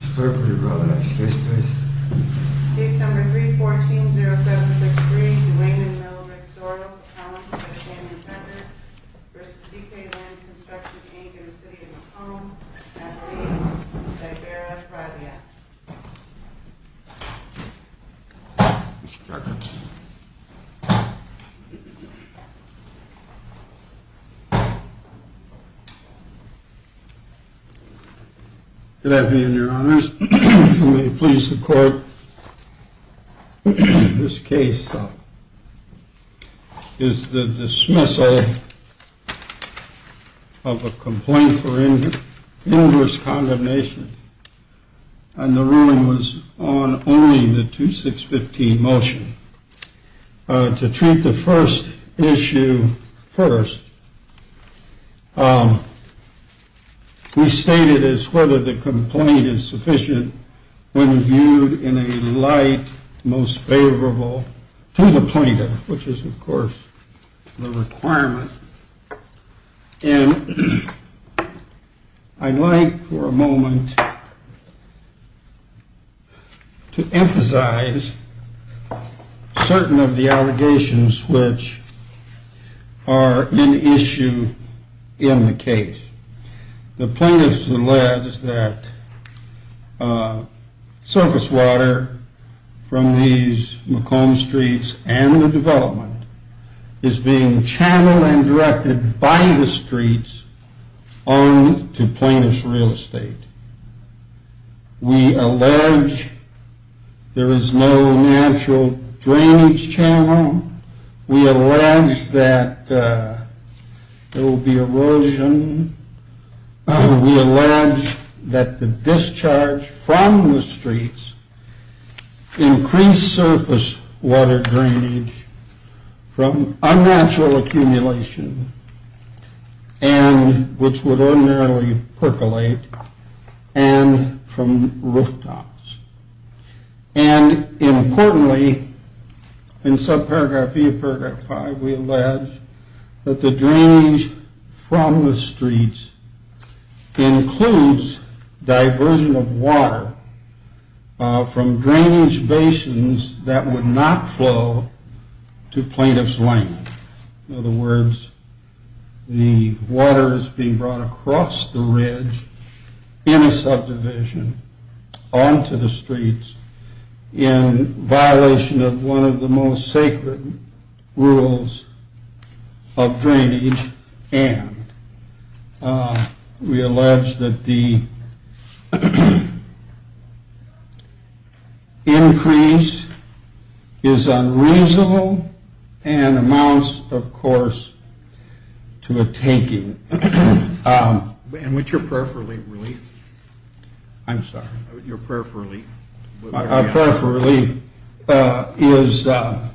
December 3, 14, 0763 Dwayne and Melvin Rick Sorrells v. DK Linde Construction, Inc. in the City of Macomb, N.R. East, Zibera, Providence. Good afternoon, your honors. If you may please the court, this case is the dismissal of a complaint for inverse condemnation. And the ruling was on only the 2615 motion. To treat the first issue first, we stated as whether the complaint is sufficient when viewed in a light most favorable to the plaintiff, which is of course the requirement. And I'd like for a moment to emphasize certain of the allegations which are in issue in the case. The plaintiff's alleged that surface water from these Macomb streets and the development is being channeled and directed by the streets on to plaintiff's real estate. We allege there is no natural drainage channel. We allege that there will be erosion. We allege that the discharge from the streets increased surface water drainage from unnatural accumulation, which would ordinarily percolate, and from rooftops. And importantly, in subparagraph E of paragraph 5, we allege that the drainage from the streets includes diversion of water from drainage basins that would not flow to plaintiff's land. In other words, the water is being brought across the ridge in a subdivision on to the streets in violation of one of the most sacred rules of drainage. And we allege that the increase is unreasonable and amounts, of course, to a taking. And what's your prayer for relief? I'm sorry. Your prayer for relief. Our prayer for relief is, our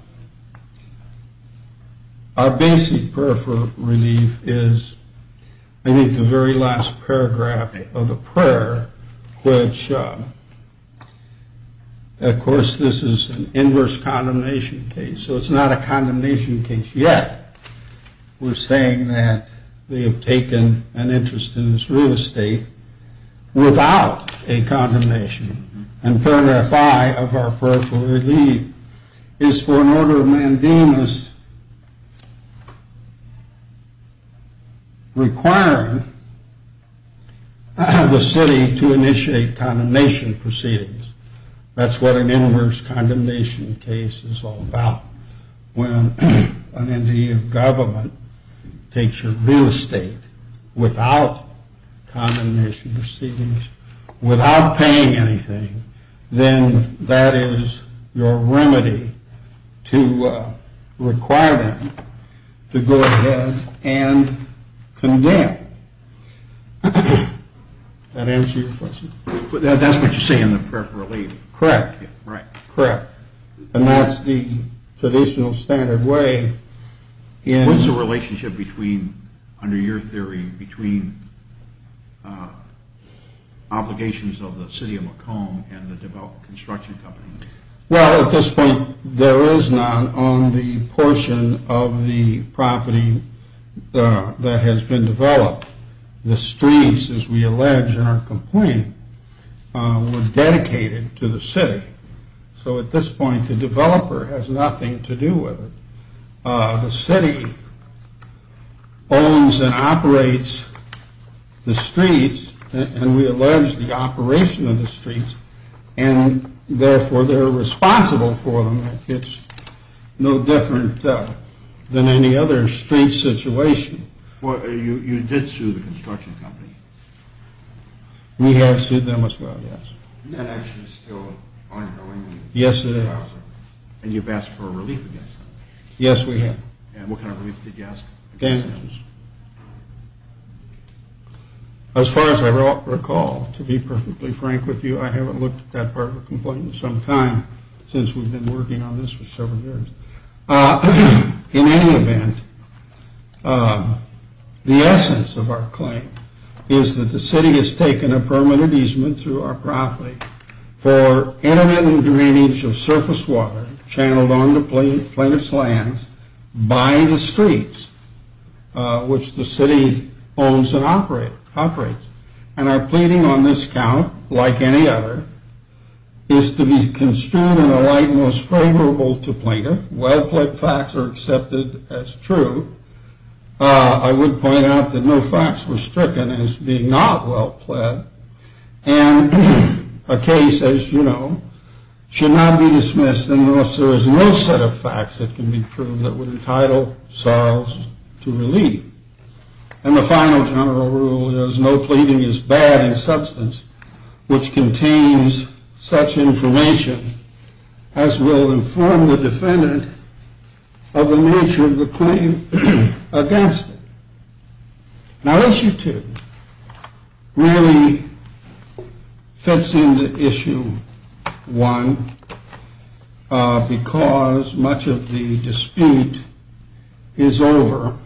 basic prayer for relief is, I think, the very last paragraph of the prayer, which, of course, this is an inverse condemnation case. So it's not a condemnation case yet. We're saying that they have taken an interest in this real estate without a condemnation. And paragraph 5 of our prayer for relief is for an order of mandamus requiring the city to initiate condemnation proceedings. That's what an inverse condemnation case is all about. When an entity of government takes your real estate without condemnation proceedings, without paying anything, then that is your remedy to require them to go ahead and condemn. Does that answer your question? That's what you say in the prayer for relief. Correct. Right. Correct. And that's the traditional standard way. What's the relationship between, under your theory, between obligations of the city of Macomb and the construction company? Well, at this point, there is none on the portion of the property that has been developed. The streets, as we allege in our complaint, were dedicated to the city. So at this point, the developer has nothing to do with it. The city owns and operates the streets, and we allege the operation of the streets, and therefore they're responsible for them. It's no different than any other street situation. You did sue the construction company. We have sued them as well, yes. And that action is still ongoing? Yes, it is. And you've asked for a relief against them? Yes, we have. And what kind of relief did you ask? Damages. As far as I recall, to be perfectly frank with you, I haven't looked at that part of the complaint in some time since we've been working on this for several years. In any event, the essence of our claim is that the city has taken a permanent easement through our property for intermittent drainage of surface water channeled onto plaintiff's lands by the streets, which the city owns and operates. And our pleading on this count, like any other, is to be construed in a light most favorable to plaintiff. Well-pled facts are accepted as true. I would point out that no facts were stricken as being not well-pled. And a case, as you know, should not be dismissed unless there is no set of facts that can be proved that would entitle Sarles to relief. And the final general rule is no pleading is bad in substance, which contains such information as will inform the defendant of the nature of the claim against it. Now, issue two really fits into issue one because much of the dispute is over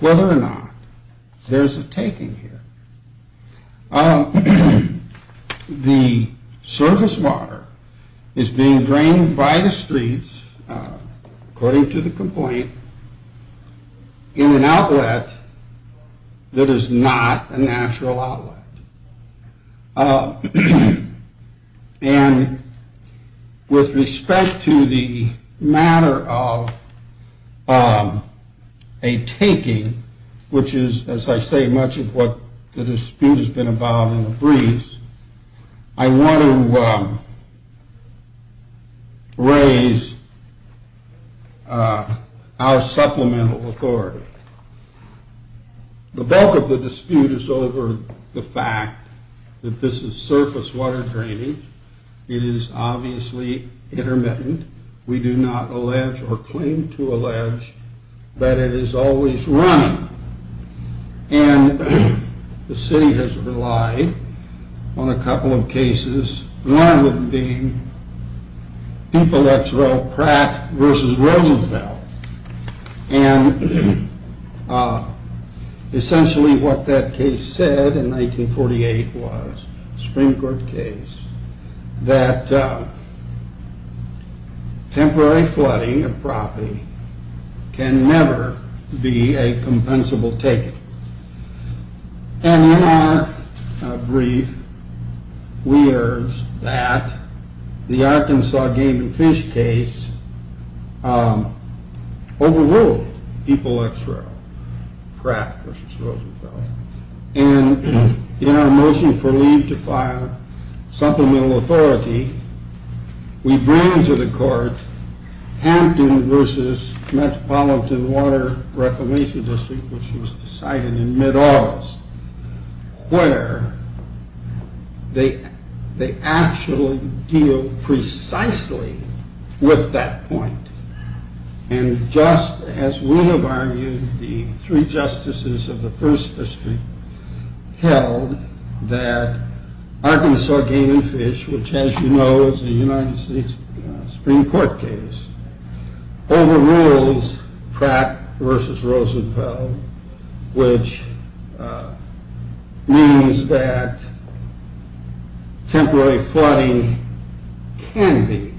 whether or not there's a taking here. The surface water is being drained by the streets, according to the complaint, in an outlet that is not a natural outlet. And with respect to the matter of a taking, which is, as I say, much of what the dispute has been about in the briefs, I want to raise our supplemental authority. The bulk of the dispute is over the fact that this is surface water drainage. It is obviously intermittent. We do not allege or claim to allege that it is always running. And the city has relied on a couple of cases, one of them being people that's well cracked versus Roosevelt. And essentially what that case said in 1948 was, a Supreme Court case, that temporary flooding of property can never be a compensable taking. And in our brief, we urge that the Arkansas game and fish case overrule people that's well cracked versus Roosevelt. And in our motion for leave to file supplemental authority, we bring to the court Hampton versus Metropolitan Water Reclamation District, which was decided in mid-August, where they actually deal precisely with that point. And just as we have argued, the three justices of the first district held that Arkansas game and fish, which as you know, is a United States Supreme Court case, overrules cracked versus Roosevelt, which means that temporary flooding can be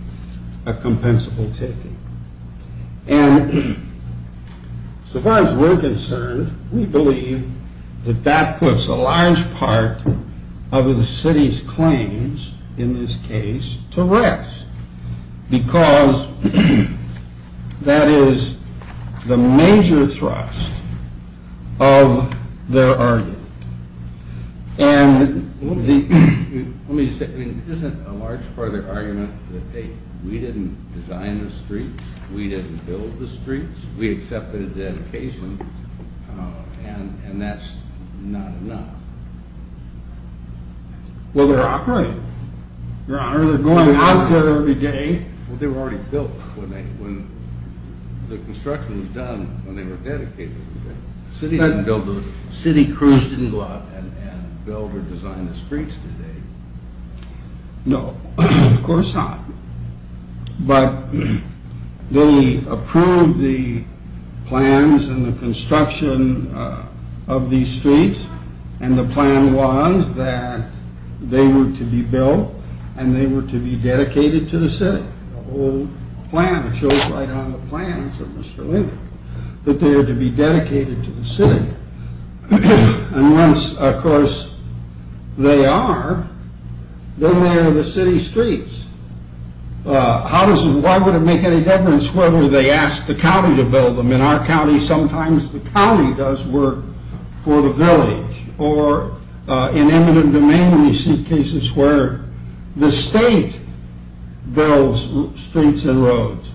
a compensable taking. And so far as we're concerned, we believe that that puts a large part of the city's claims in this case to rest. Because that is the major thrust of their argument. And let me just say, isn't a large part of their argument that, hey, we didn't design the streets, we didn't build the streets, we accepted the dedication, and that's not enough? Well, they're operating. They're going out there every day. Well, they were already built when the construction was done, when they were dedicated. City crews didn't go out and build or design the streets today. No, of course not. But they approved the plans and the construction of these streets. And the plan was that they were to be built and they were to be dedicated to the city. The whole plan, it shows right on the plans of Mr. Lincoln, that they are to be dedicated to the city. And once, of course, they are, then they are the city streets. Why would it make any difference whether they ask the county to build them? In our county, sometimes the county does work for the village. Or in eminent domain, we see cases where the state builds streets and roads,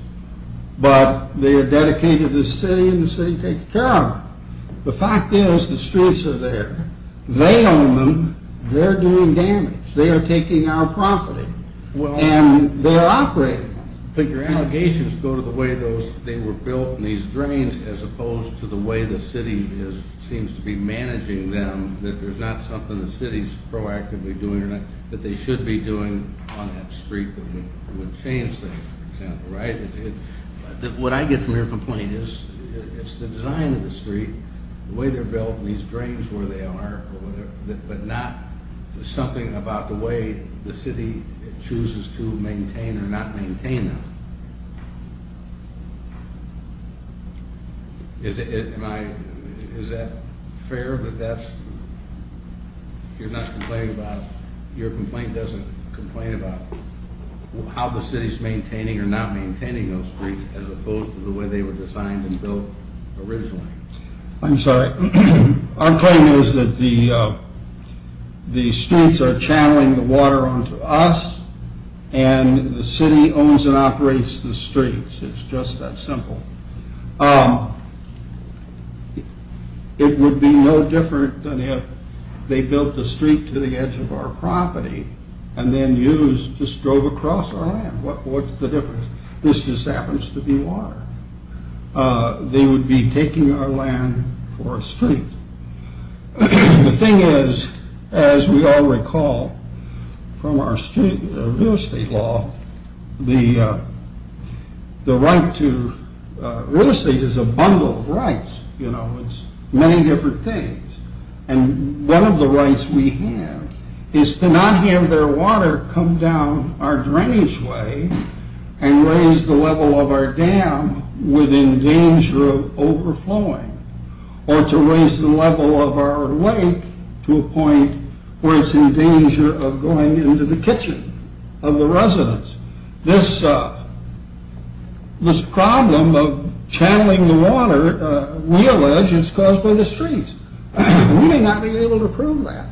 but they are dedicated to the city and the city takes care of it. The fact is the streets are there. They own them. They're doing damage. They are taking our property. And they are operating. But your allegations go to the way they were built and these drains, as opposed to the way the city seems to be managing them, that there's not something the city's proactively doing or not, that they should be doing on that street that would change things, for example, right? What I get from your complaint is it's the design of the street, the way they're built and these drains where they are, but not something about the way the city chooses to maintain or not maintain them. Is that fair that that's... You're not complaining about... as opposed to the way they were designed and built originally. I'm sorry. Our claim is that the streets are channeling the water onto us and the city owns and operates the streets. It's just that simple. It would be no different than if they built the street to the edge of our property and then used, just drove across our land. What's the difference? This just happens to be water. They would be taking our land for a street. The thing is, as we all recall from our real estate law, the right to real estate is a bundle of rights. It's many different things. One of the rights we have is to not have their water come down our drainage way and raise the level of our dam within danger of overflowing or to raise the level of our lake to a point where it's in danger of going into the kitchen of the residents. This problem of channeling the water, we allege, is caused by the streets. We may not be able to prove that.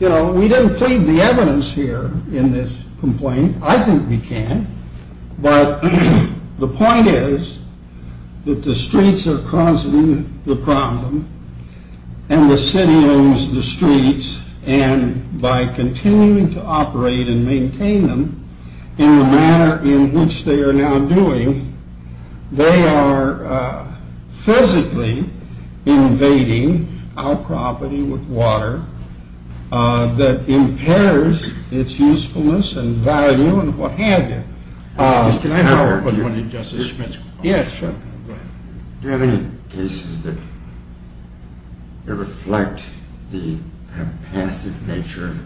We didn't plead the evidence here in this complaint. I think we can. But the point is that the streets are causing the problem and the city owns the streets and by continuing to operate and maintain them in the manner in which they are now doing, they are physically invading our property with water that impairs its usefulness and value and what have you. Mr. Howard, do you have any cases that reflect the kind of passive nature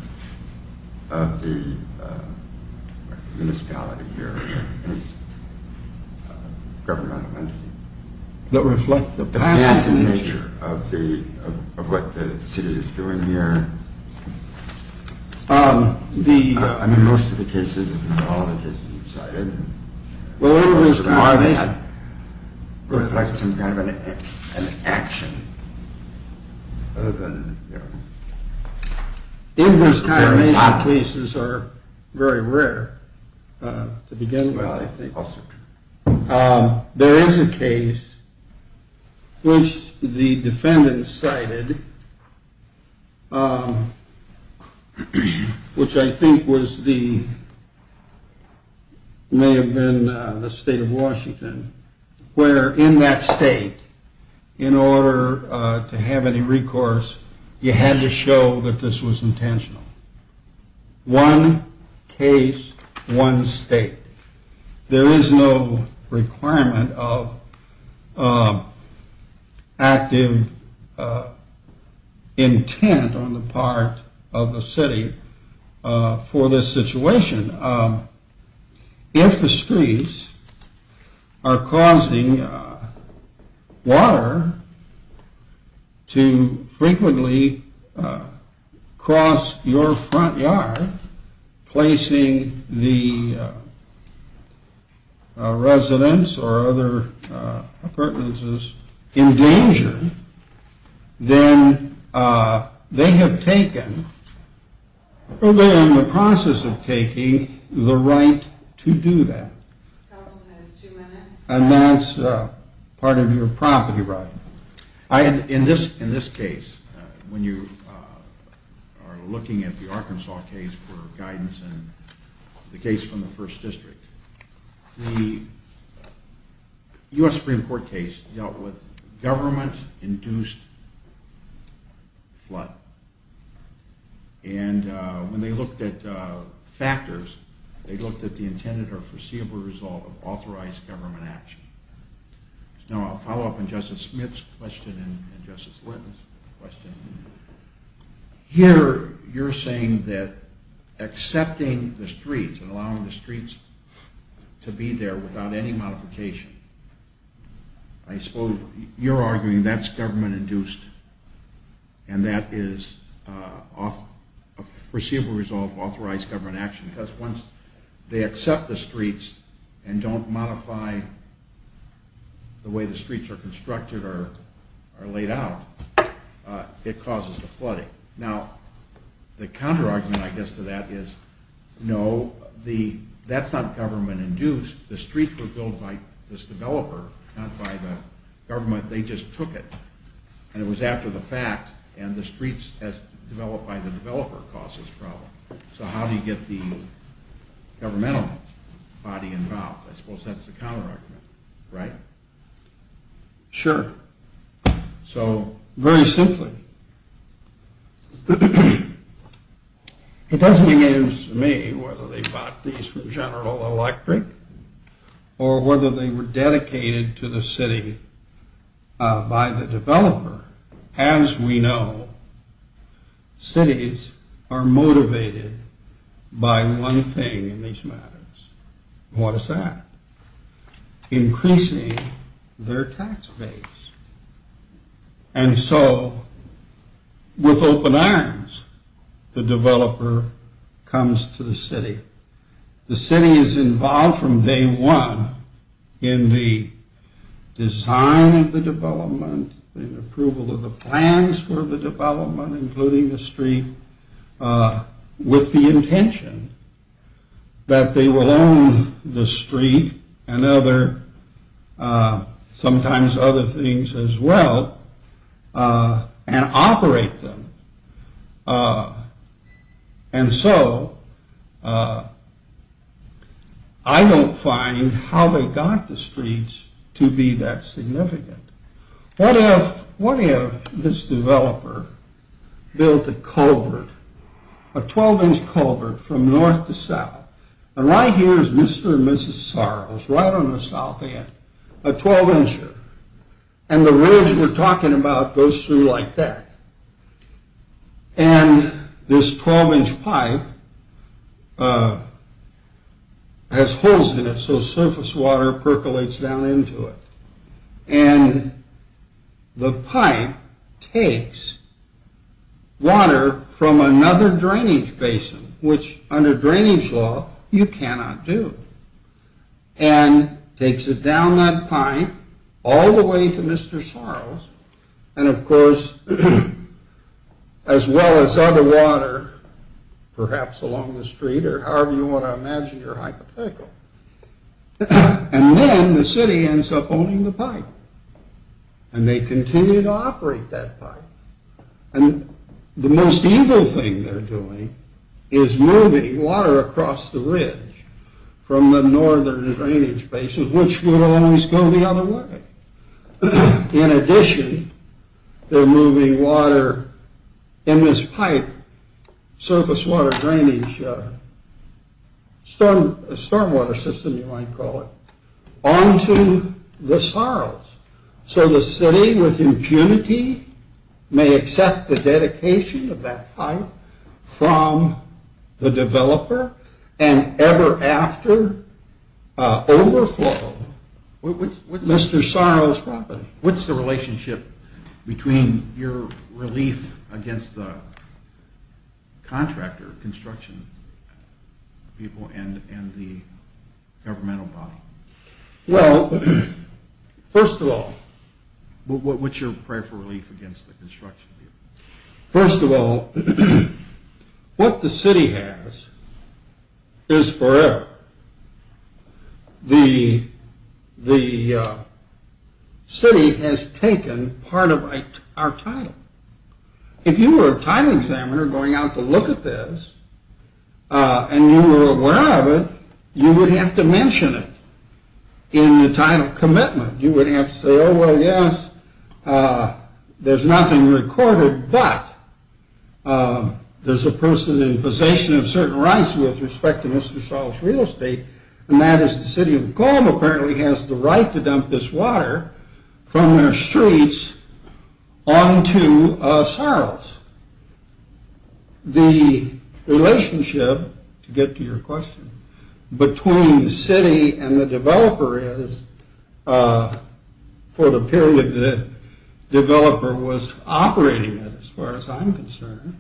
of the municipality here or any governmental entity? That reflect the passive nature? The passive nature of what the city is doing here. I mean, most of the cases, all of the cases you cited reflect some kind of an action other than... Inverse confirmation cases are very rare to begin with, I think. There is a case which the defendant cited, which I think was the... may have been the state of Washington, where in that state, in order to have any recourse, you had to show that this was intentional. One case, one state. There is no requirement of active intent on the part of the city for this situation. If the streets are causing water to frequently cross your front yard, placing the residents or other appurtenances in danger, then they have taken, or they are in the process of taking, the right to do that. And that's part of your property right. In this case, when you are looking at the Arkansas case for guidance and the case from the first district, the U.S. Supreme Court case dealt with government-induced flood. And when they looked at factors, they looked at the intended or foreseeable result of authorized government action. Now, I'll follow up on Justice Smith's question and Justice Linton's question. Here, you're saying that accepting the streets and allowing the streets to be there without any modification, I suppose you're arguing that's government-induced and that is a foreseeable result of authorized government action. Because once they accept the streets and don't modify the way the streets are constructed or laid out, it causes the flooding. Now, the counter-argument I guess to that is, no, that's not government-induced. The streets were built by this developer, not by the government, they just took it. And it was after the fact, and the streets as developed by the developer caused this problem. So how do you get the governmental body involved? I suppose that's the counter-argument, right? Sure. So, very simply, it doesn't make any sense to me whether they bought these from General Electric or whether they were dedicated to the city by the developer. As we know, cities are motivated by one thing in these matters. What is that? Increasing their tax base. And so, with open arms, the developer comes to the city. The city is involved from day one in the design of the development, in approval of the plans for the development, including the street, with the intention that they will own the street and other, sometimes other things as well, and operate them. And so, I don't find how they got the streets to be that significant. What if this developer built a culvert, a 12-inch culvert from north to south? And right here is Mr. and Mrs. Sorrell's, right on the south end, a 12-incher. And the ridge we're talking about goes through like that. And this 12-inch pipe has holes in it, so surface water percolates down into it. And the pipe takes water from another drainage basin, which under drainage law you cannot do, and takes it down that pipe all the way to Mr. Sorrell's, and of course, as well as other water, perhaps along the street, or however you want to imagine your hypothetical. And then the city ends up owning the pipe, and they continue to operate that pipe. And the most evil thing they're doing is moving water across the ridge from the northern drainage basin, which would always go the other way. In addition, they're moving water in this pipe, surface water drainage, stormwater system you might call it, onto the Sorrell's. So the city with impunity may accept the dedication of that pipe from the developer, and ever after overflow Mr. Sorrell's property. What's the relationship between your relief against the contractor, construction people, and the governmental body? Well, first of all... What's your prayer for relief against the construction people? First of all, what the city has is forever. The city has taken part of our title. If you were a title examiner going out to look at this, and you were aware of it, you would have to mention it in the title commitment. You would have to say, oh, well, yes, there's nothing recorded, but there's a person in possession of certain rights with respect to Mr. Sorrell's real estate, and that is the city of Colm apparently has the right to dump this water from their streets onto Sorrell's. The relationship, to get to your question, between the city and the developer is, for the period the developer was operating it, as far as I'm concerned,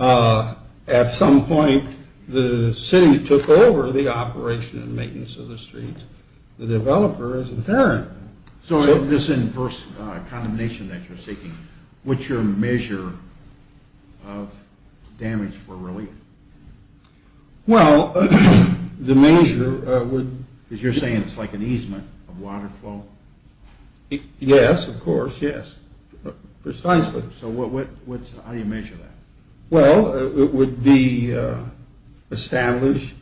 at some point the city took over the operation and maintenance of the streets. The developer is in there. So this inverse condemnation that you're seeking, what's your measure of damage for relief? Well, the measure would... Because you're saying it's like an easement of water flow? Yes, of course, yes. Precisely. So how do you measure that? Well, it would be established,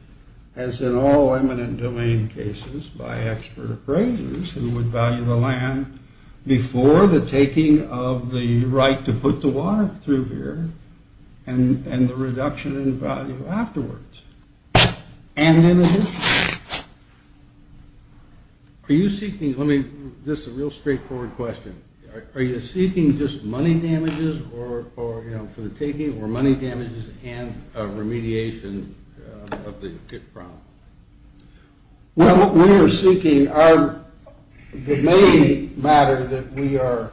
as in all eminent domain cases, by expert appraisers who would value the land before the taking of the right to put the water through here and the reduction in value afterwards. And in addition. Are you seeking, let me, this is a real straightforward question, are you seeking just money damages for the taking or money damages and remediation of the problem? Well, what we are seeking, the main matter that we are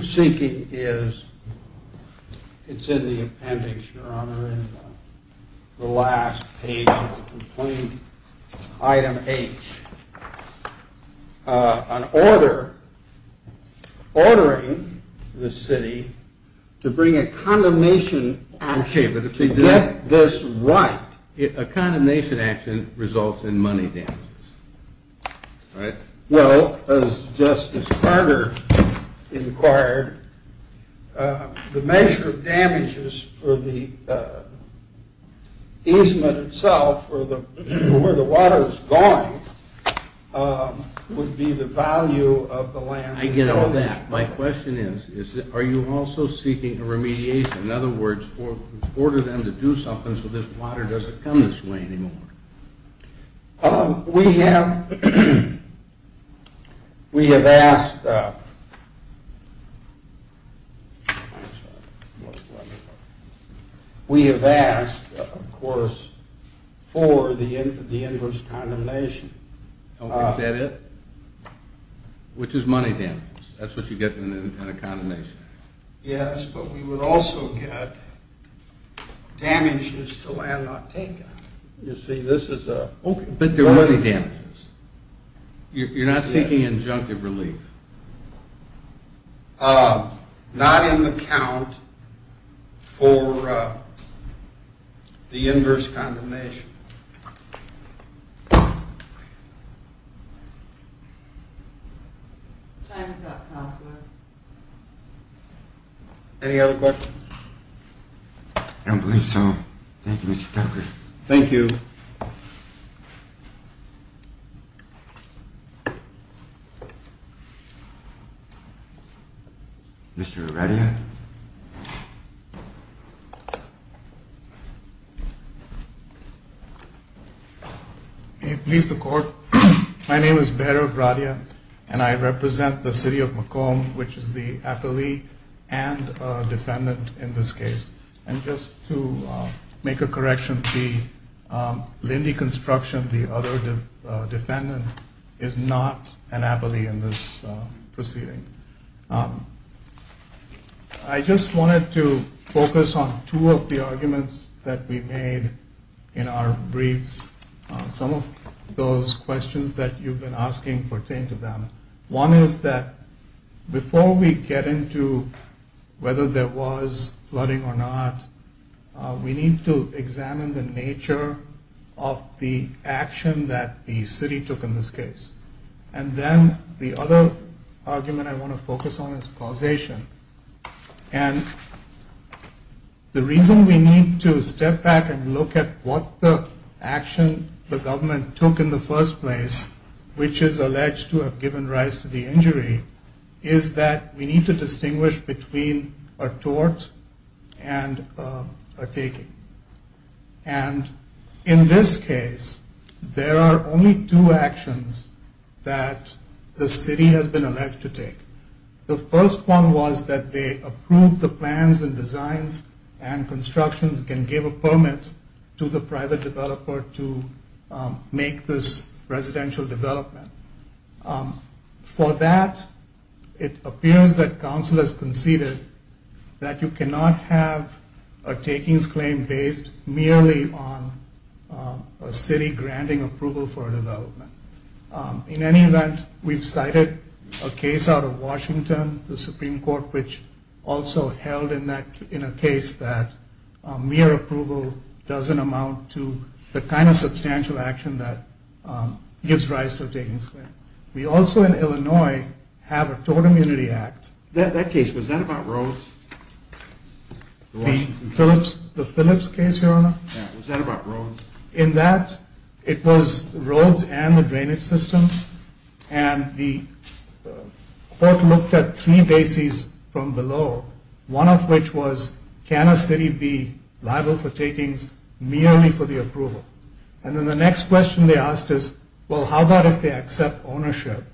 seeking is, it's in the appendix, Your Honor, in the last page of the complaint, item H. An order ordering the city to bring a condemnation action to get this right. A condemnation action results in money damages. Well, as Justice Carter inquired, the measure of damages for the easement itself, for where the water is going, would be the value of the land. I get all that. My question is, are you also seeking a remediation? In other words, order them to do something so this water doesn't come this way anymore. We have asked, of course, for the inverse condemnation. Is that it? Which is money damages. That's what you get in a condemnation. Yes, but we would also get damages to land not taken. You see, this is a... But there are money damages. You're not seeking injunctive relief. Not in the count for the inverse condemnation. Thank you. Any other questions? I don't believe so. Thank you, Mr. Tucker. Thank you. Mr. Radia. May it please the Court. My name is Behrood Radia, and I represent the city of Macomb, which is the appellee and defendant in this case. And just to make a correction, the Lindy construction, the other defendant, is not an appellee in this proceeding. I just wanted to focus on two of the arguments that we made in our briefs. Some of those questions that you've been asking pertain to them. One is that before we get into whether there was flooding or not, we need to examine the nature of the action that the city took in this case. And then the other argument I want to focus on is causation. And the reason we need to step back and look at what the action the government took in the first place, which is alleged to have given rise to the injury, is that we need to distinguish between a tort and a taking. And in this case, there are only two actions that the city has been alleged to take. The first one was that they approved the plans and designs and constructions and gave a permit to the private developer to make this residential development. For that, it appears that council has conceded that you cannot have a takings claim based merely on a city granting approval for a development. In any event, we've cited a case out of Washington, the Supreme Court, which also held in a case that mere approval doesn't amount to the kind of substantial action that gives rise to a takings claim. We also in Illinois have a Tort Immunity Act. That case, was that about roads? The Phillips case, Your Honor? Yeah, was that about roads? In that, it was roads and the drainage system. And the court looked at three bases from below, one of which was, can a city be liable for takings merely for the approval? And then the next question they asked is, well, how about if they accept ownership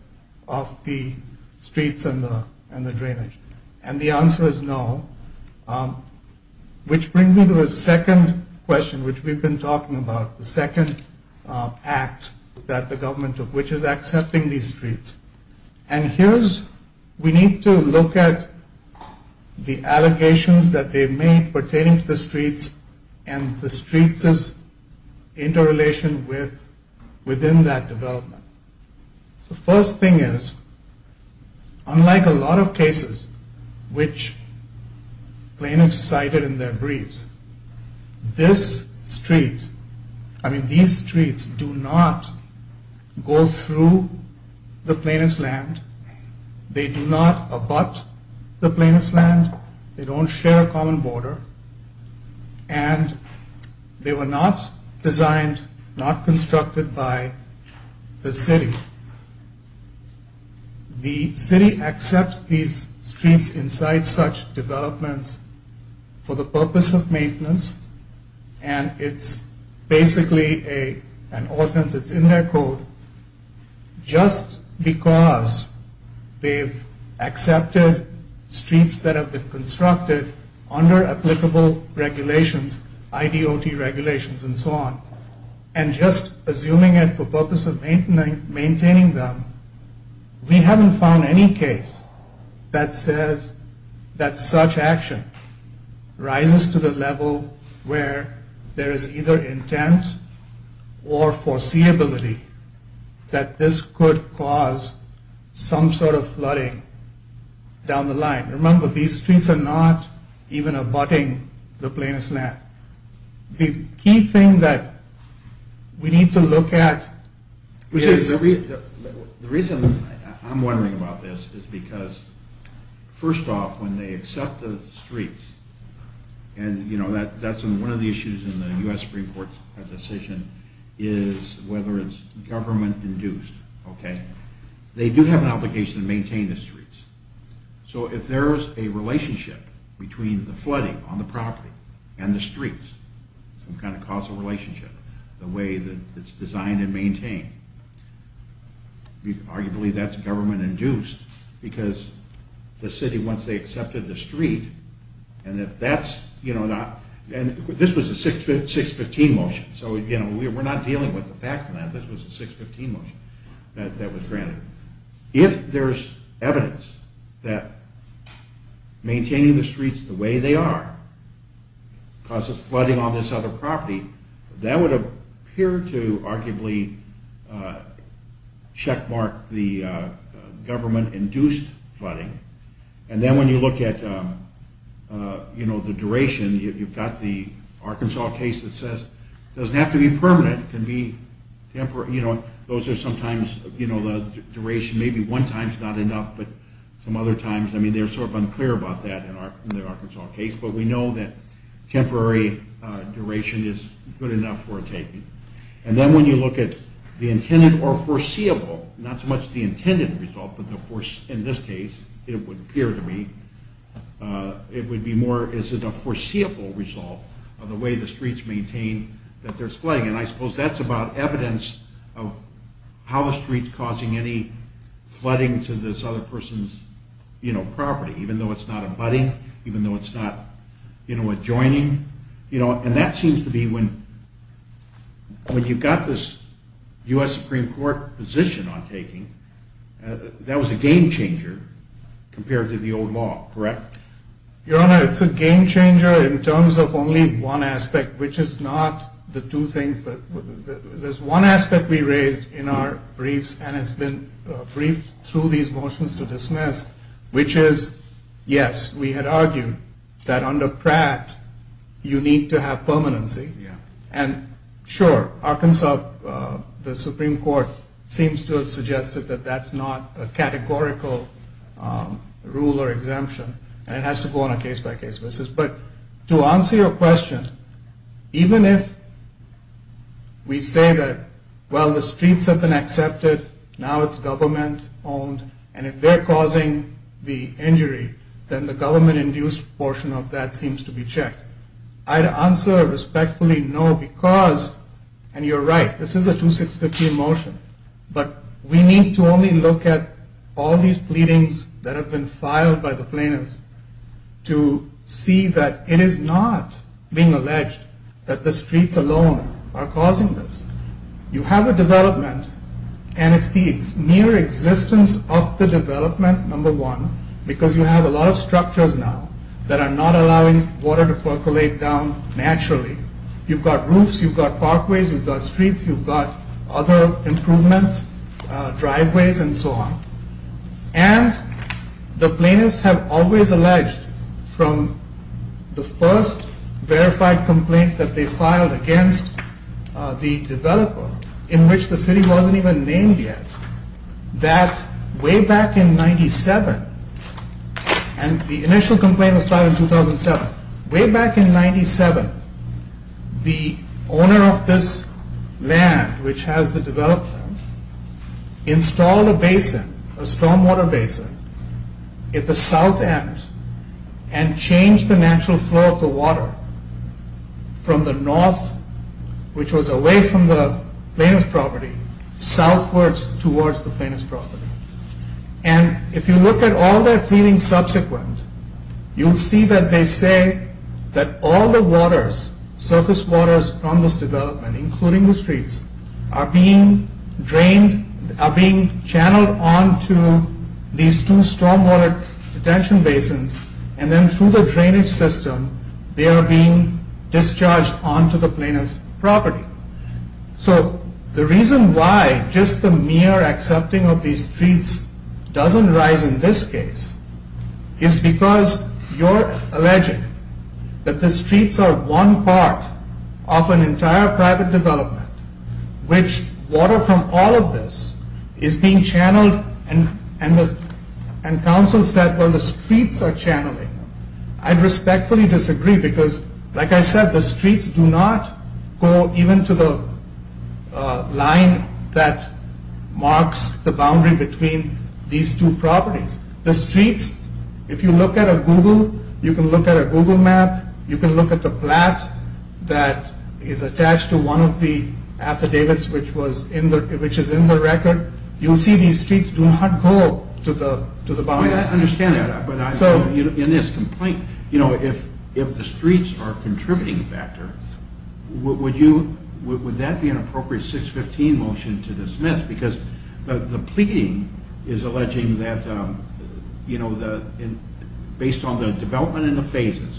of the streets and the drainage? And the answer is no, which brings me to the second question, which we've been talking about, the second act that the government took, which is accepting these streets. And here's, we need to look at the allegations that they've made pertaining to the streets and the streets' interrelation within that development. The first thing is, unlike a lot of cases which plaintiffs cited in their briefs, this street, I mean, these streets do not go through the plaintiff's land. They do not abut the plaintiff's land. They don't share a common border. And they were not designed, not constructed by the city. The city accepts these streets inside such developments for the purpose of maintenance, and it's basically an ordinance. It's in their code. Just because they've accepted streets that have been constructed under applicable regulations, IDOT regulations and so on, and just assuming it for purpose of maintaining them, we haven't found any case that says that such action rises to the level where there is either intent or foreseeability that this could cause some sort of flooding down the line. Remember, these streets are not even abutting the plaintiff's land. The key thing that we need to look at is... The reason I'm wondering about this is because, first off, when they accept the streets, and that's one of the issues in the U.S. Supreme Court's decision, is whether it's government-induced. So if there's a relationship between the flooding on the property and the streets, some kind of causal relationship, the way that it's designed and maintained, arguably that's government-induced because the city, once they accepted the street, and this was a 615 motion, so we're not dealing with the facts of that. This was a 615 motion that was granted. If there's evidence that maintaining the streets the way they are causes flooding on this other property, that would appear to arguably checkmark the government-induced flooding. And then when you look at the duration, you've got the Arkansas case that says it doesn't have to be permanent. Those are sometimes the duration, maybe one time's not enough, but some other times, I mean, they're sort of unclear about that in the Arkansas case, but we know that temporary duration is good enough for a taking. And then when you look at the intended or foreseeable, not so much the intended result, but in this case, it would appear to me, it would be more, is it a foreseeable result of the way the streets maintain that there's flooding? And I suppose that's about evidence of how the street's causing any flooding to this other person's property, even though it's not abutting, even though it's not adjoining. And that seems to be when you've got this U.S. Supreme Court position on taking, that was a game-changer compared to the old law, correct? Your Honor, it's a game-changer in terms of only one aspect, which is not the two things that, there's one aspect we raised in our briefs and has been briefed through these motions to dismiss, which is, yes, we had argued that under Pratt, you need to have permanency. And sure, Arkansas, the Supreme Court seems to have suggested that that's not a categorical rule or exemption, and it has to go on a case-by-case basis. But to answer your question, even if we say that, well, the streets have been accepted, now it's government-owned, and if they're causing the injury, then the government-induced portion of that seems to be checked. I'd answer respectfully, no, because, and you're right, this is a 2650 motion, but we need to only look at all these pleadings that have been filed by the plaintiffs to see that it is not being alleged that the streets alone are causing this. You have a development, and it's the mere existence of the development, number one, because you have a lot of structures now that are not allowing water to percolate down naturally. You've got roofs, you've got parkways, you've got streets, you've got other improvements, driveways and so on, and the plaintiffs have always alleged from the first verified complaint that they filed against the developer, in which the city wasn't even named yet, that way back in 97, and the initial complaint was filed in 2007, way back in 97, the owner of this land, which has the development, installed a basin, a stormwater basin, at the south end, and changed the natural flow of the water from the north, which was away from the plaintiff's property, southwards towards the plaintiff's property. And if you look at all their pleadings subsequent, you'll see that they say that all the waters, surface waters from this development, including the streets, are being drained, are being channeled onto these two stormwater retention basins, and then through the drainage system, they are being discharged onto the plaintiff's property. So, the reason why just the mere accepting of these streets doesn't rise in this case, is because you're alleging that the streets are one part of an entire private development, which water from all of this is being channeled, and counsel said, well, the streets are channeling. I respectfully disagree, because, like I said, the streets do not go even to the line that marks the boundary between these two properties. The streets, if you look at a Google, you can look at a Google map, you can look at the plat that is attached to one of the affidavits which is in the record, you'll see these streets do not go to the boundary. I understand that, but in this complaint, you know, if the streets are a contributing factor, would that be an appropriate 615 motion to dismiss? Because the pleading is alleging that, you know, based on the development and the phases,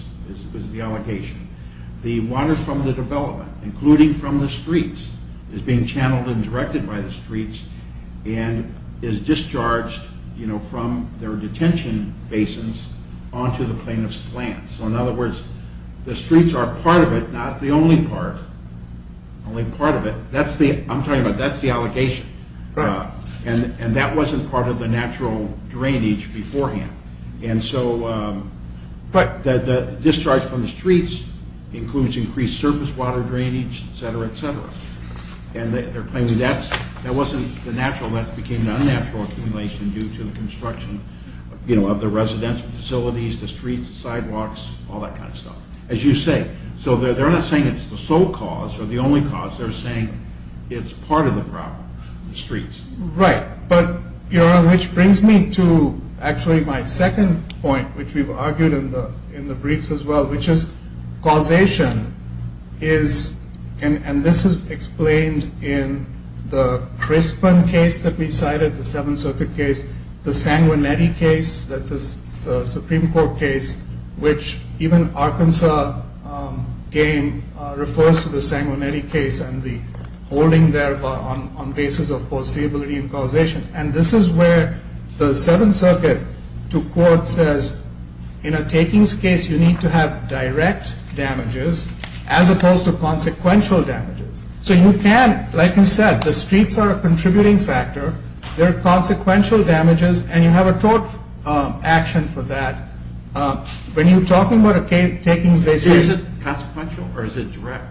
is the allegation, the water from the development, including from the streets, is being channeled and directed by the streets, and is discharged, you know, from their detention basins onto the plaintiff's land. So in other words, the streets are part of it, not the only part, only part of it, that's the, I'm talking about, that's the allegation, and that wasn't part of the natural drainage beforehand, and so, but the discharge from the streets includes increased surface water drainage, et cetera, et cetera, and they're claiming that wasn't the natural, the residential facilities, the streets, the sidewalks, all that kind of stuff, as you say. So they're not saying it's the sole cause or the only cause, they're saying it's part of the problem, the streets. Right, but, which brings me to actually my second point, which we've argued in the briefs as well, which is causation is, and this is explained in the Crispin case that we cited, the Seventh Circuit case, the Sanguinetti case, that's a Supreme Court case, which even Arkansas game refers to the Sanguinetti case and the holding there on basis of foreseeability and causation, and this is where the Seventh Circuit, to quote, says, in a takings case you need to have direct damages as opposed to consequential damages. So you can, like you said, the streets are a contributing factor, they're consequential damages, and you have a tort action for that. When you're talking about takings, they say- Is it consequential or is it direct?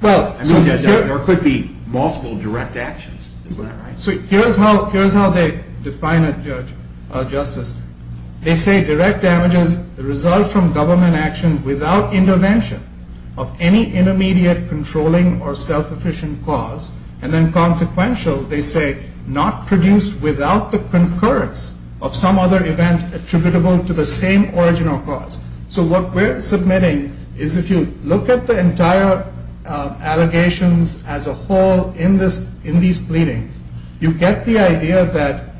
Well- There could be multiple direct actions, is that right? So here's how they define it, Justice. They say direct damages result from government action without intervention of any intermediate controlling or self-efficient cause, and then consequential, they say, not produced without the concurrence of some other event attributable to the same origin or cause. So what we're submitting is if you look at the entire allegations as a whole in these pleadings, you get the idea that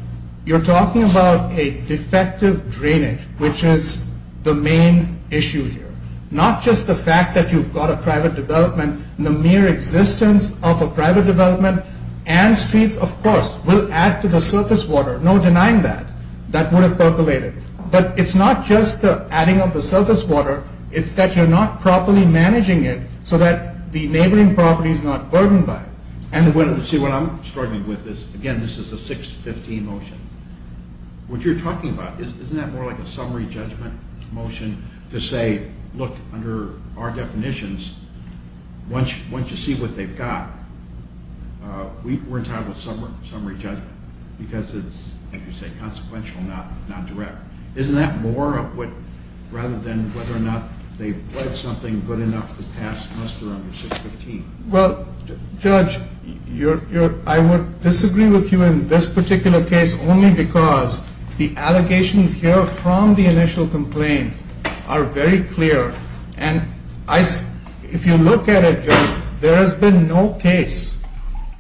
you're talking about a defective drainage, which is the main issue here, not just the fact that you've got a private development and the mere existence of a private development and streets, of course, will add to the surface water, no denying that, that would have percolated. But it's not just the adding of the surface water, it's that you're not properly managing it so that the neighboring property is not burdened by it. See, what I'm struggling with is, again, this is a 615 motion. What you're talking about, isn't that more like a summary judgment motion to say, look, under our definitions, once you see what they've got, we're entitled to summary judgment because it's, like you say, consequential, not direct. Isn't that more of what, rather than whether or not they've pledged something good enough this past semester under 615? Well, Judge, I would disagree with you in this particular case only because the allegations here from the initial complaints are very clear. And if you look at it, Judge, there has been no case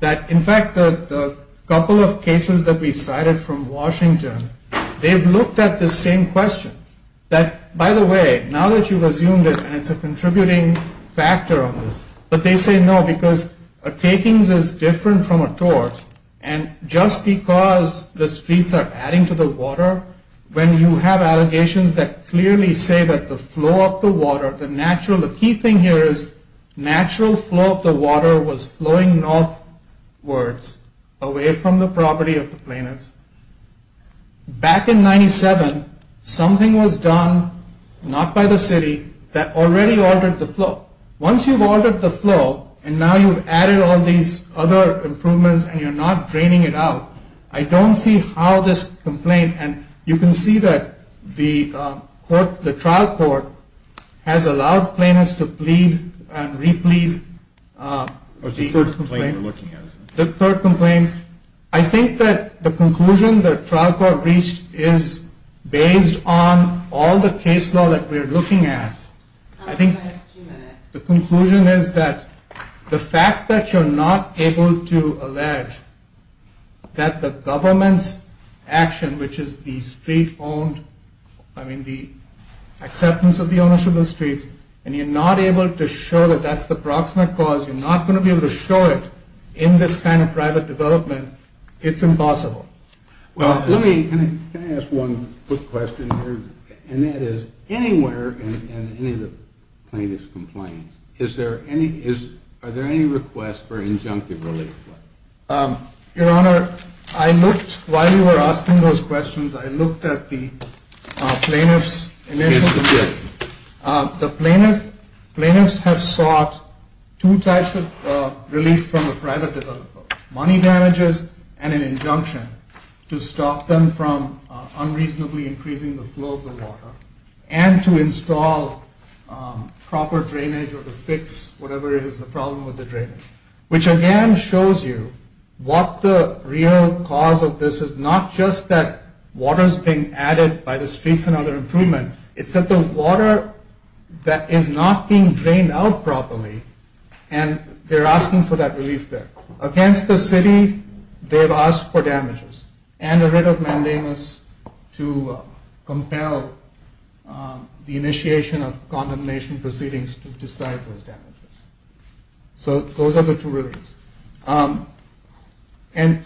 that, in fact, the couple of cases that we cited from Washington, they've looked at the same question, that, by the way, now that you've assumed it and it's a contributing factor on this, but they say no because a takings is different from a tort, and just because the streets are adding to the water, when you have allegations that clearly say that the flow of the water, the natural, the key thing here is natural flow of the water was flowing northwards, away from the property of the plaintiffs. Back in 97, something was done, not by the city, that already altered the flow. Once you've altered the flow and now you've added all these other improvements and you're not draining it out, I don't see how this complaint, and you can see that the trial court has allowed plaintiffs to plead and replead. What's the third complaint you're looking at? The third complaint. I think that the conclusion the trial court reached is based on all the case law that we're looking at. I think the conclusion is that the fact that you're not able to allege that the government's action, which is the acceptance of the ownership of the streets, and you're not able to show that that's the proximate cause, you're not going to be able to show it in this kind of private development, it's impossible. Can I ask one quick question here? And that is, anywhere in any of the plaintiff's complaints, are there any requests for injunctive relief? Your Honor, I looked, while you were asking those questions, I looked at the plaintiff's initial relief. The plaintiffs have sought two types of relief from the private developer. Money damages and an injunction to stop them from unreasonably increasing the flow of the water and to install proper drainage or to fix whatever is the problem with the drainage, which again shows you what the real cause of this is not just that water is being added by the streets and that's another improvement, it's that the water that is not being drained out properly and they're asking for that relief there. Against the city, they have asked for damages and a writ of mandamus to compel the initiation of condemnation proceedings to decide those damages. So those are the two reliefs. And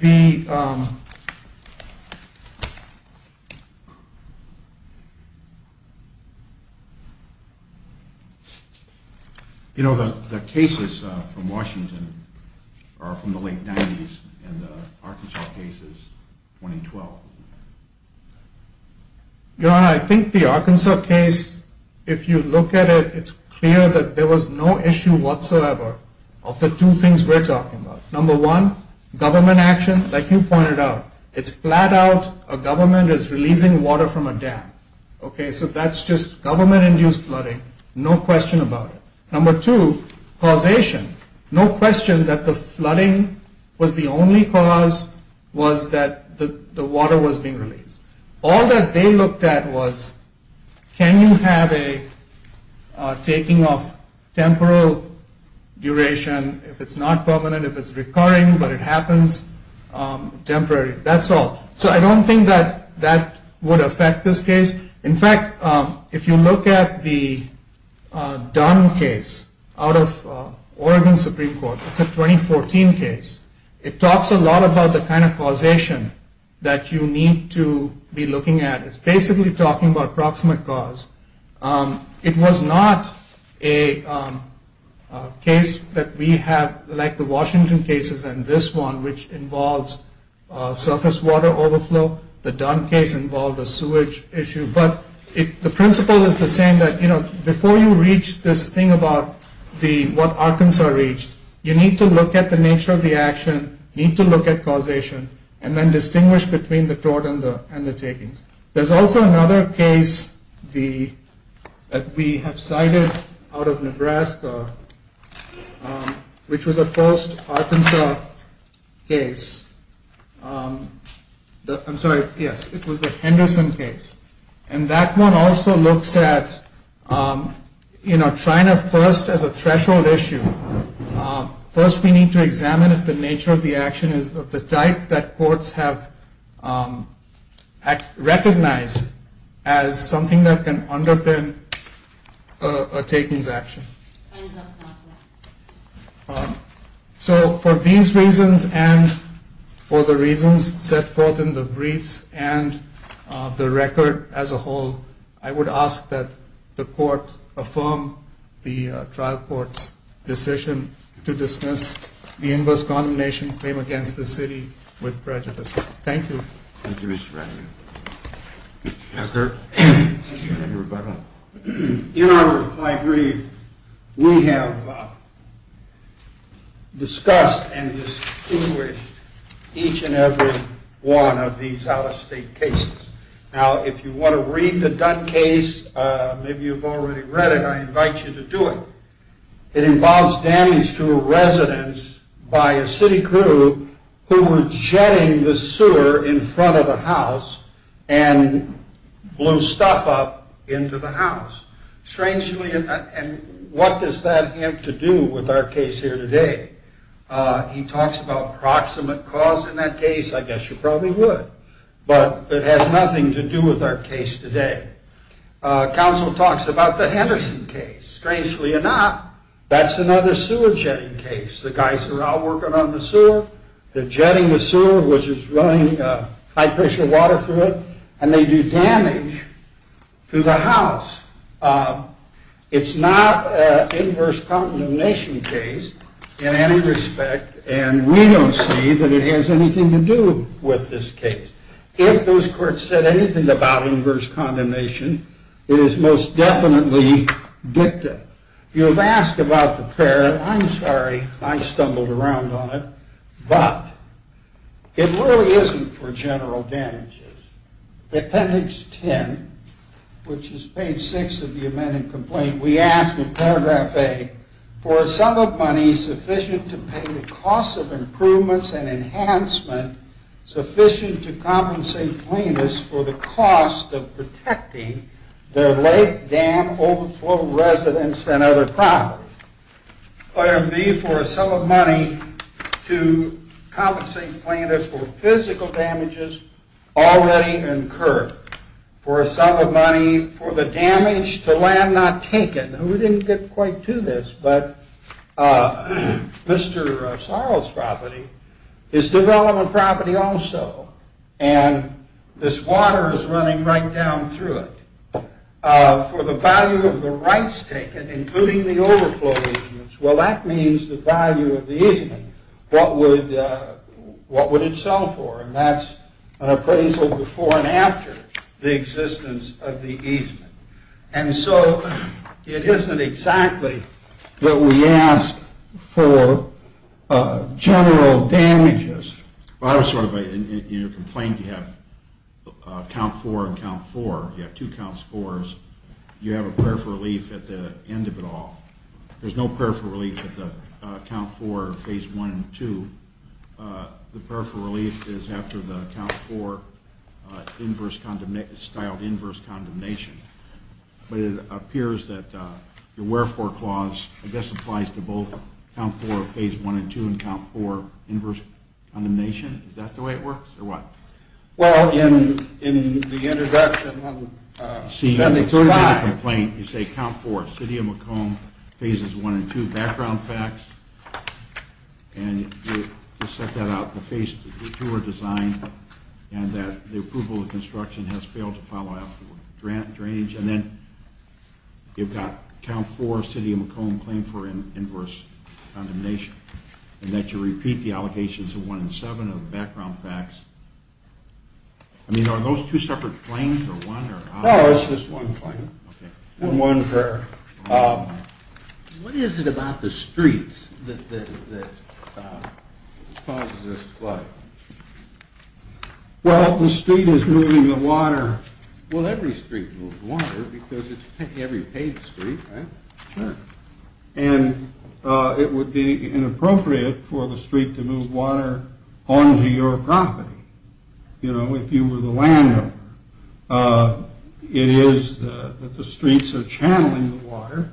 the... You know, the cases from Washington are from the late 90s and the Arkansas case is 2012. Your Honor, I think the Arkansas case, if you look at it, it's clear that there was no issue whatsoever of the two things we're talking about. Number one, government action. Like you pointed out, it's flat out a government is releasing water from a dam. Okay, so that's just government-induced flooding. No question about it. Number two, causation. No question that the flooding was the only cause was that the water was being released. All that they looked at was can you have a taking of temporal duration if it's not permanent, if it's recurring but it happens temporarily. That's all. So I don't think that that would affect this case. In fact, if you look at the Dunn case out of Oregon Supreme Court, it's a 2014 case. It talks a lot about the kind of causation that you need to be looking at. It's basically talking about approximate cause. It was not a case that we have, like the Washington cases and this one, which involves surface water overflow. The Dunn case involved a sewage issue. But the principle is the same, that before you reach this thing about what Arkansas reached, you need to look at the nature of the action, need to look at causation, and then distinguish between the tort and the takings. There's also another case that we have cited out of Nebraska, which was a post-Arkansas case. I'm sorry, yes, it was the Henderson case. And that one also looks at trying to first as a threshold issue, first we need to examine if the nature of the action is of the type that courts have recognized as something that can underpin a takings action. So for these reasons and for the reasons set forth in the briefs and the record as a whole, I would ask that the court affirm the trial court's decision to dismiss the inverse condemnation claim against the city with prejudice. Thank you. Thank you, Mr. Ratigan. Mr. Tucker. Thank you, Mr. Roberto. In my brief, we have discussed and distinguished each and every one of these out-of-state cases. Now, if you want to read the Dunn case, maybe you've already read it, I invite you to do it. It involves damage to a residence by a city crew who were jetting the sewer in front of the house and blew stuff up into the house. Strangely, and what does that have to do with our case here today? He talks about proximate cause in that case, I guess you probably would, but it has nothing to do with our case today. Counsel talks about the Henderson case. Strangely enough, that's another sewer jetting case. The guys are out working on the sewer. They're jetting the sewer, which is running high-pressure water through it, and they do damage to the house. It's not an inverse condemnation case in any respect, and we don't see that it has anything to do with this case. If those courts said anything about inverse condemnation, it is most definitely dicta. You have asked about the pair. I'm sorry, I stumbled around on it, but it really isn't for general damages. Appendix 10, which is page 6 of the amended complaint, we ask in paragraph 8, for a sum of money sufficient to pay the cost of improvements and enhancement sufficient to compensate plaintiffs for the cost of protecting their lake, dam, overflow residence, and other property. Item B, for a sum of money to compensate plaintiffs for physical damages already incurred. For a sum of money for the damage to land not taken. We didn't get quite to this, but Mr. Sorrell's property is development property also, and this water is running right down through it. For the value of the rights taken, including the overflow easements, well, that means the value of the easement, what would it sell for? And that's an appraisal before and after the existence of the easement. And so it isn't exactly that we ask for general damages. In your complaint, you have count 4 and count 4. You have two counts 4s. You have a prayer for relief at the end of it all. There's no prayer for relief at the count 4, phase 1 and 2. The prayer for relief is after the count 4 style inverse condemnation. That applies to both count 4 of phase 1 and 2 and count 4 inverse condemnation. Is that the way it works, or what? Well, in the introduction, that makes five. You say count 4, City of Macomb, phases 1 and 2, background facts, and you set that out. The phase 2 are designed, and the approval of construction has failed to follow after drainage. And then you've got count 4, City of Macomb, claim for inverse condemnation, and that you repeat the allocations of 1 and 7 of the background facts. I mean, are those two separate claims, or one? No, it's just one claim, and one prayer. What is it about the streets that causes this flood? Well, the street is moving the water. Well, every street moves water because it's every paved street, right? Sure. And it would be inappropriate for the street to move water onto your property, you know, if you were the landowner. It is that the streets are channeling the water,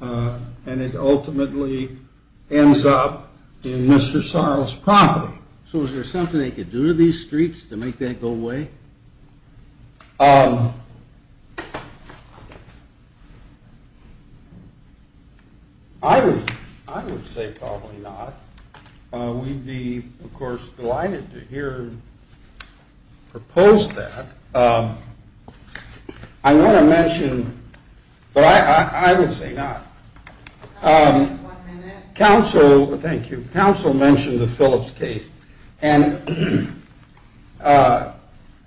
and it ultimately ends up in Mr. Sorrell's property. So is there something they could do to these streets to make that go away? I would say probably not. We'd be, of course, delighted to hear you propose that. I want to mention, but I would say not. Council, thank you. Council mentioned the Phillips case. And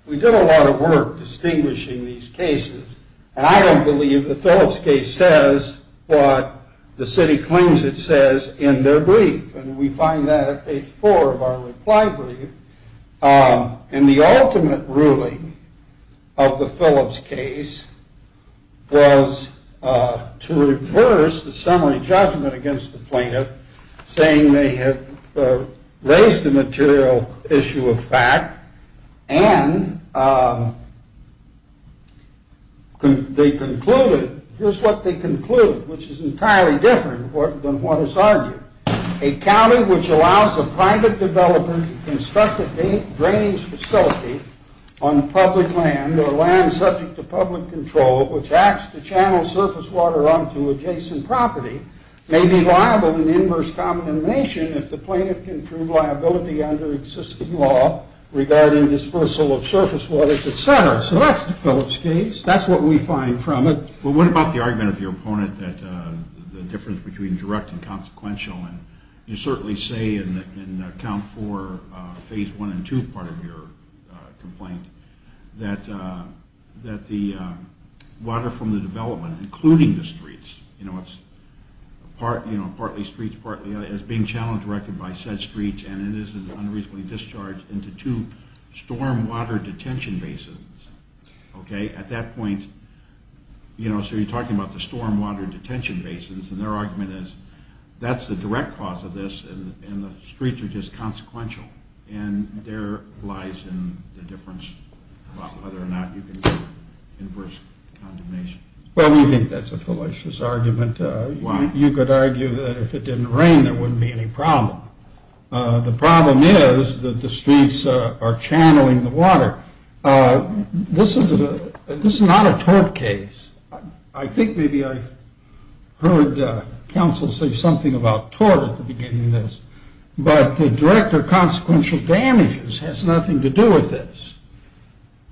we did a lot of work distinguishing these cases. And I don't believe the Phillips case says what the city claims it says in their brief. And we find that at page 4 of our reply brief. And the ultimate ruling of the Phillips case was to reverse the summary judgment against the plaintiff, saying they had raised a material issue of fact, and they concluded. Here's what they concluded, which is entirely different than what is argued. A county which allows a private developer to construct a drainage facility on public land or land subject to public control, which acts to channel surface water onto adjacent property, may be liable in inverse combination if the plaintiff can prove liability under existing law regarding dispersal of surface water, et cetera. So that's the Phillips case. That's what we find from it. Well, what about the argument of your opponent that the difference between direct and consequential, and you certainly say in count four, phase one and two part of your complaint, that the water from the development, including the streets, you know, it's partly streets, partly, is being channeled directly by said streets, and it is unreasonably discharged into two storm water detention bases. Okay, at that point, you know, so you're talking about the storm water detention basins, and their argument is that's the direct cause of this, and the streets are just consequential, and there lies in the difference about whether or not you can do inverse condemnation. Well, we think that's a fallacious argument. Why? You could argue that if it didn't rain, there wouldn't be any problem. The problem is that the streets are channeling the water. This is not a tort case. I think maybe I heard counsel say something about tort at the beginning of this, but the direct or consequential damages has nothing to do with this.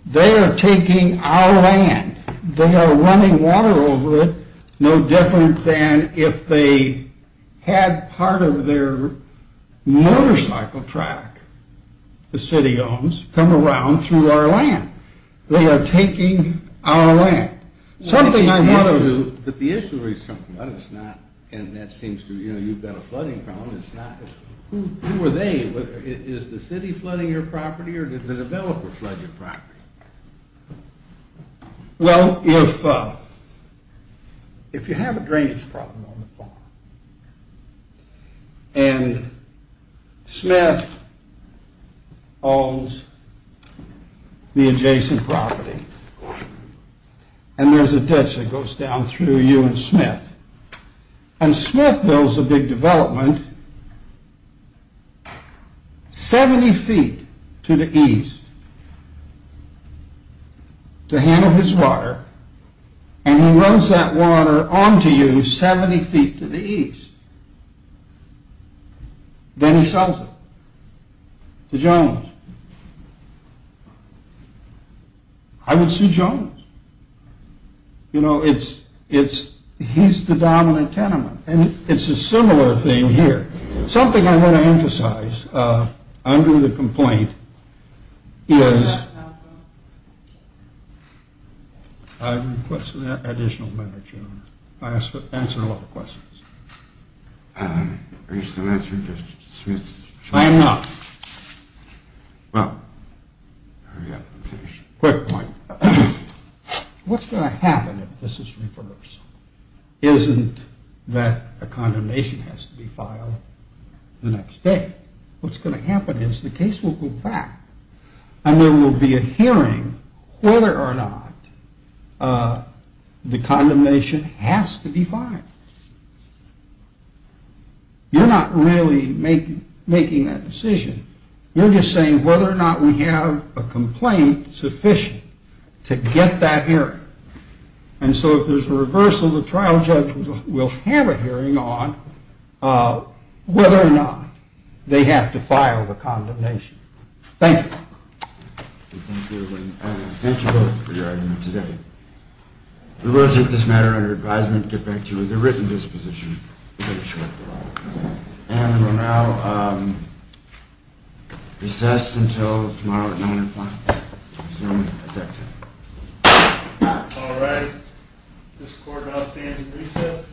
They are taking our land. They are running water over it, no different than if they had part of their motorcycle track, the city owns, come around through our land. They are taking our land. Something I want to do. But the issue is something that is not, and that seems to, you know, you've got a flooding problem, it's not. Who are they? Is the city flooding your property, or did the developer flood your property? Well, if you have a drainage problem on the farm, and Smith owns the adjacent property, and there's a ditch that goes down through you and Smith, and Smith builds a big development 70 feet to the east to handle his water, and he runs that water onto you 70 feet to the east, then he sells it to Jones. I would sue Jones. You know, it's, he's the dominant tenement. And it's a similar thing here. Something I want to emphasize under the complaint is, I'm requesting additional minutes, you know. I answer a lot of questions. Are you still answering, Mr. Smith? I am not. Well, hurry up. Quick point. What's going to happen if this is reversed? Isn't that a condemnation has to be filed the next day? What's going to happen is the case will go back, and there will be a hearing whether or not the condemnation has to be filed. You're not really making that decision. You're just saying whether or not we have a complaint sufficient to get that hearing. And so if there's a reversal, the trial judge will have a hearing on whether or not they have to file the condemnation. Thank you. Thank you both for your argument today. We will take this matter under advisement, get back to you with a written disposition. And we'll now recess until tomorrow at 9 o'clock. We'll resume at that time. All right. This court now stands in recess.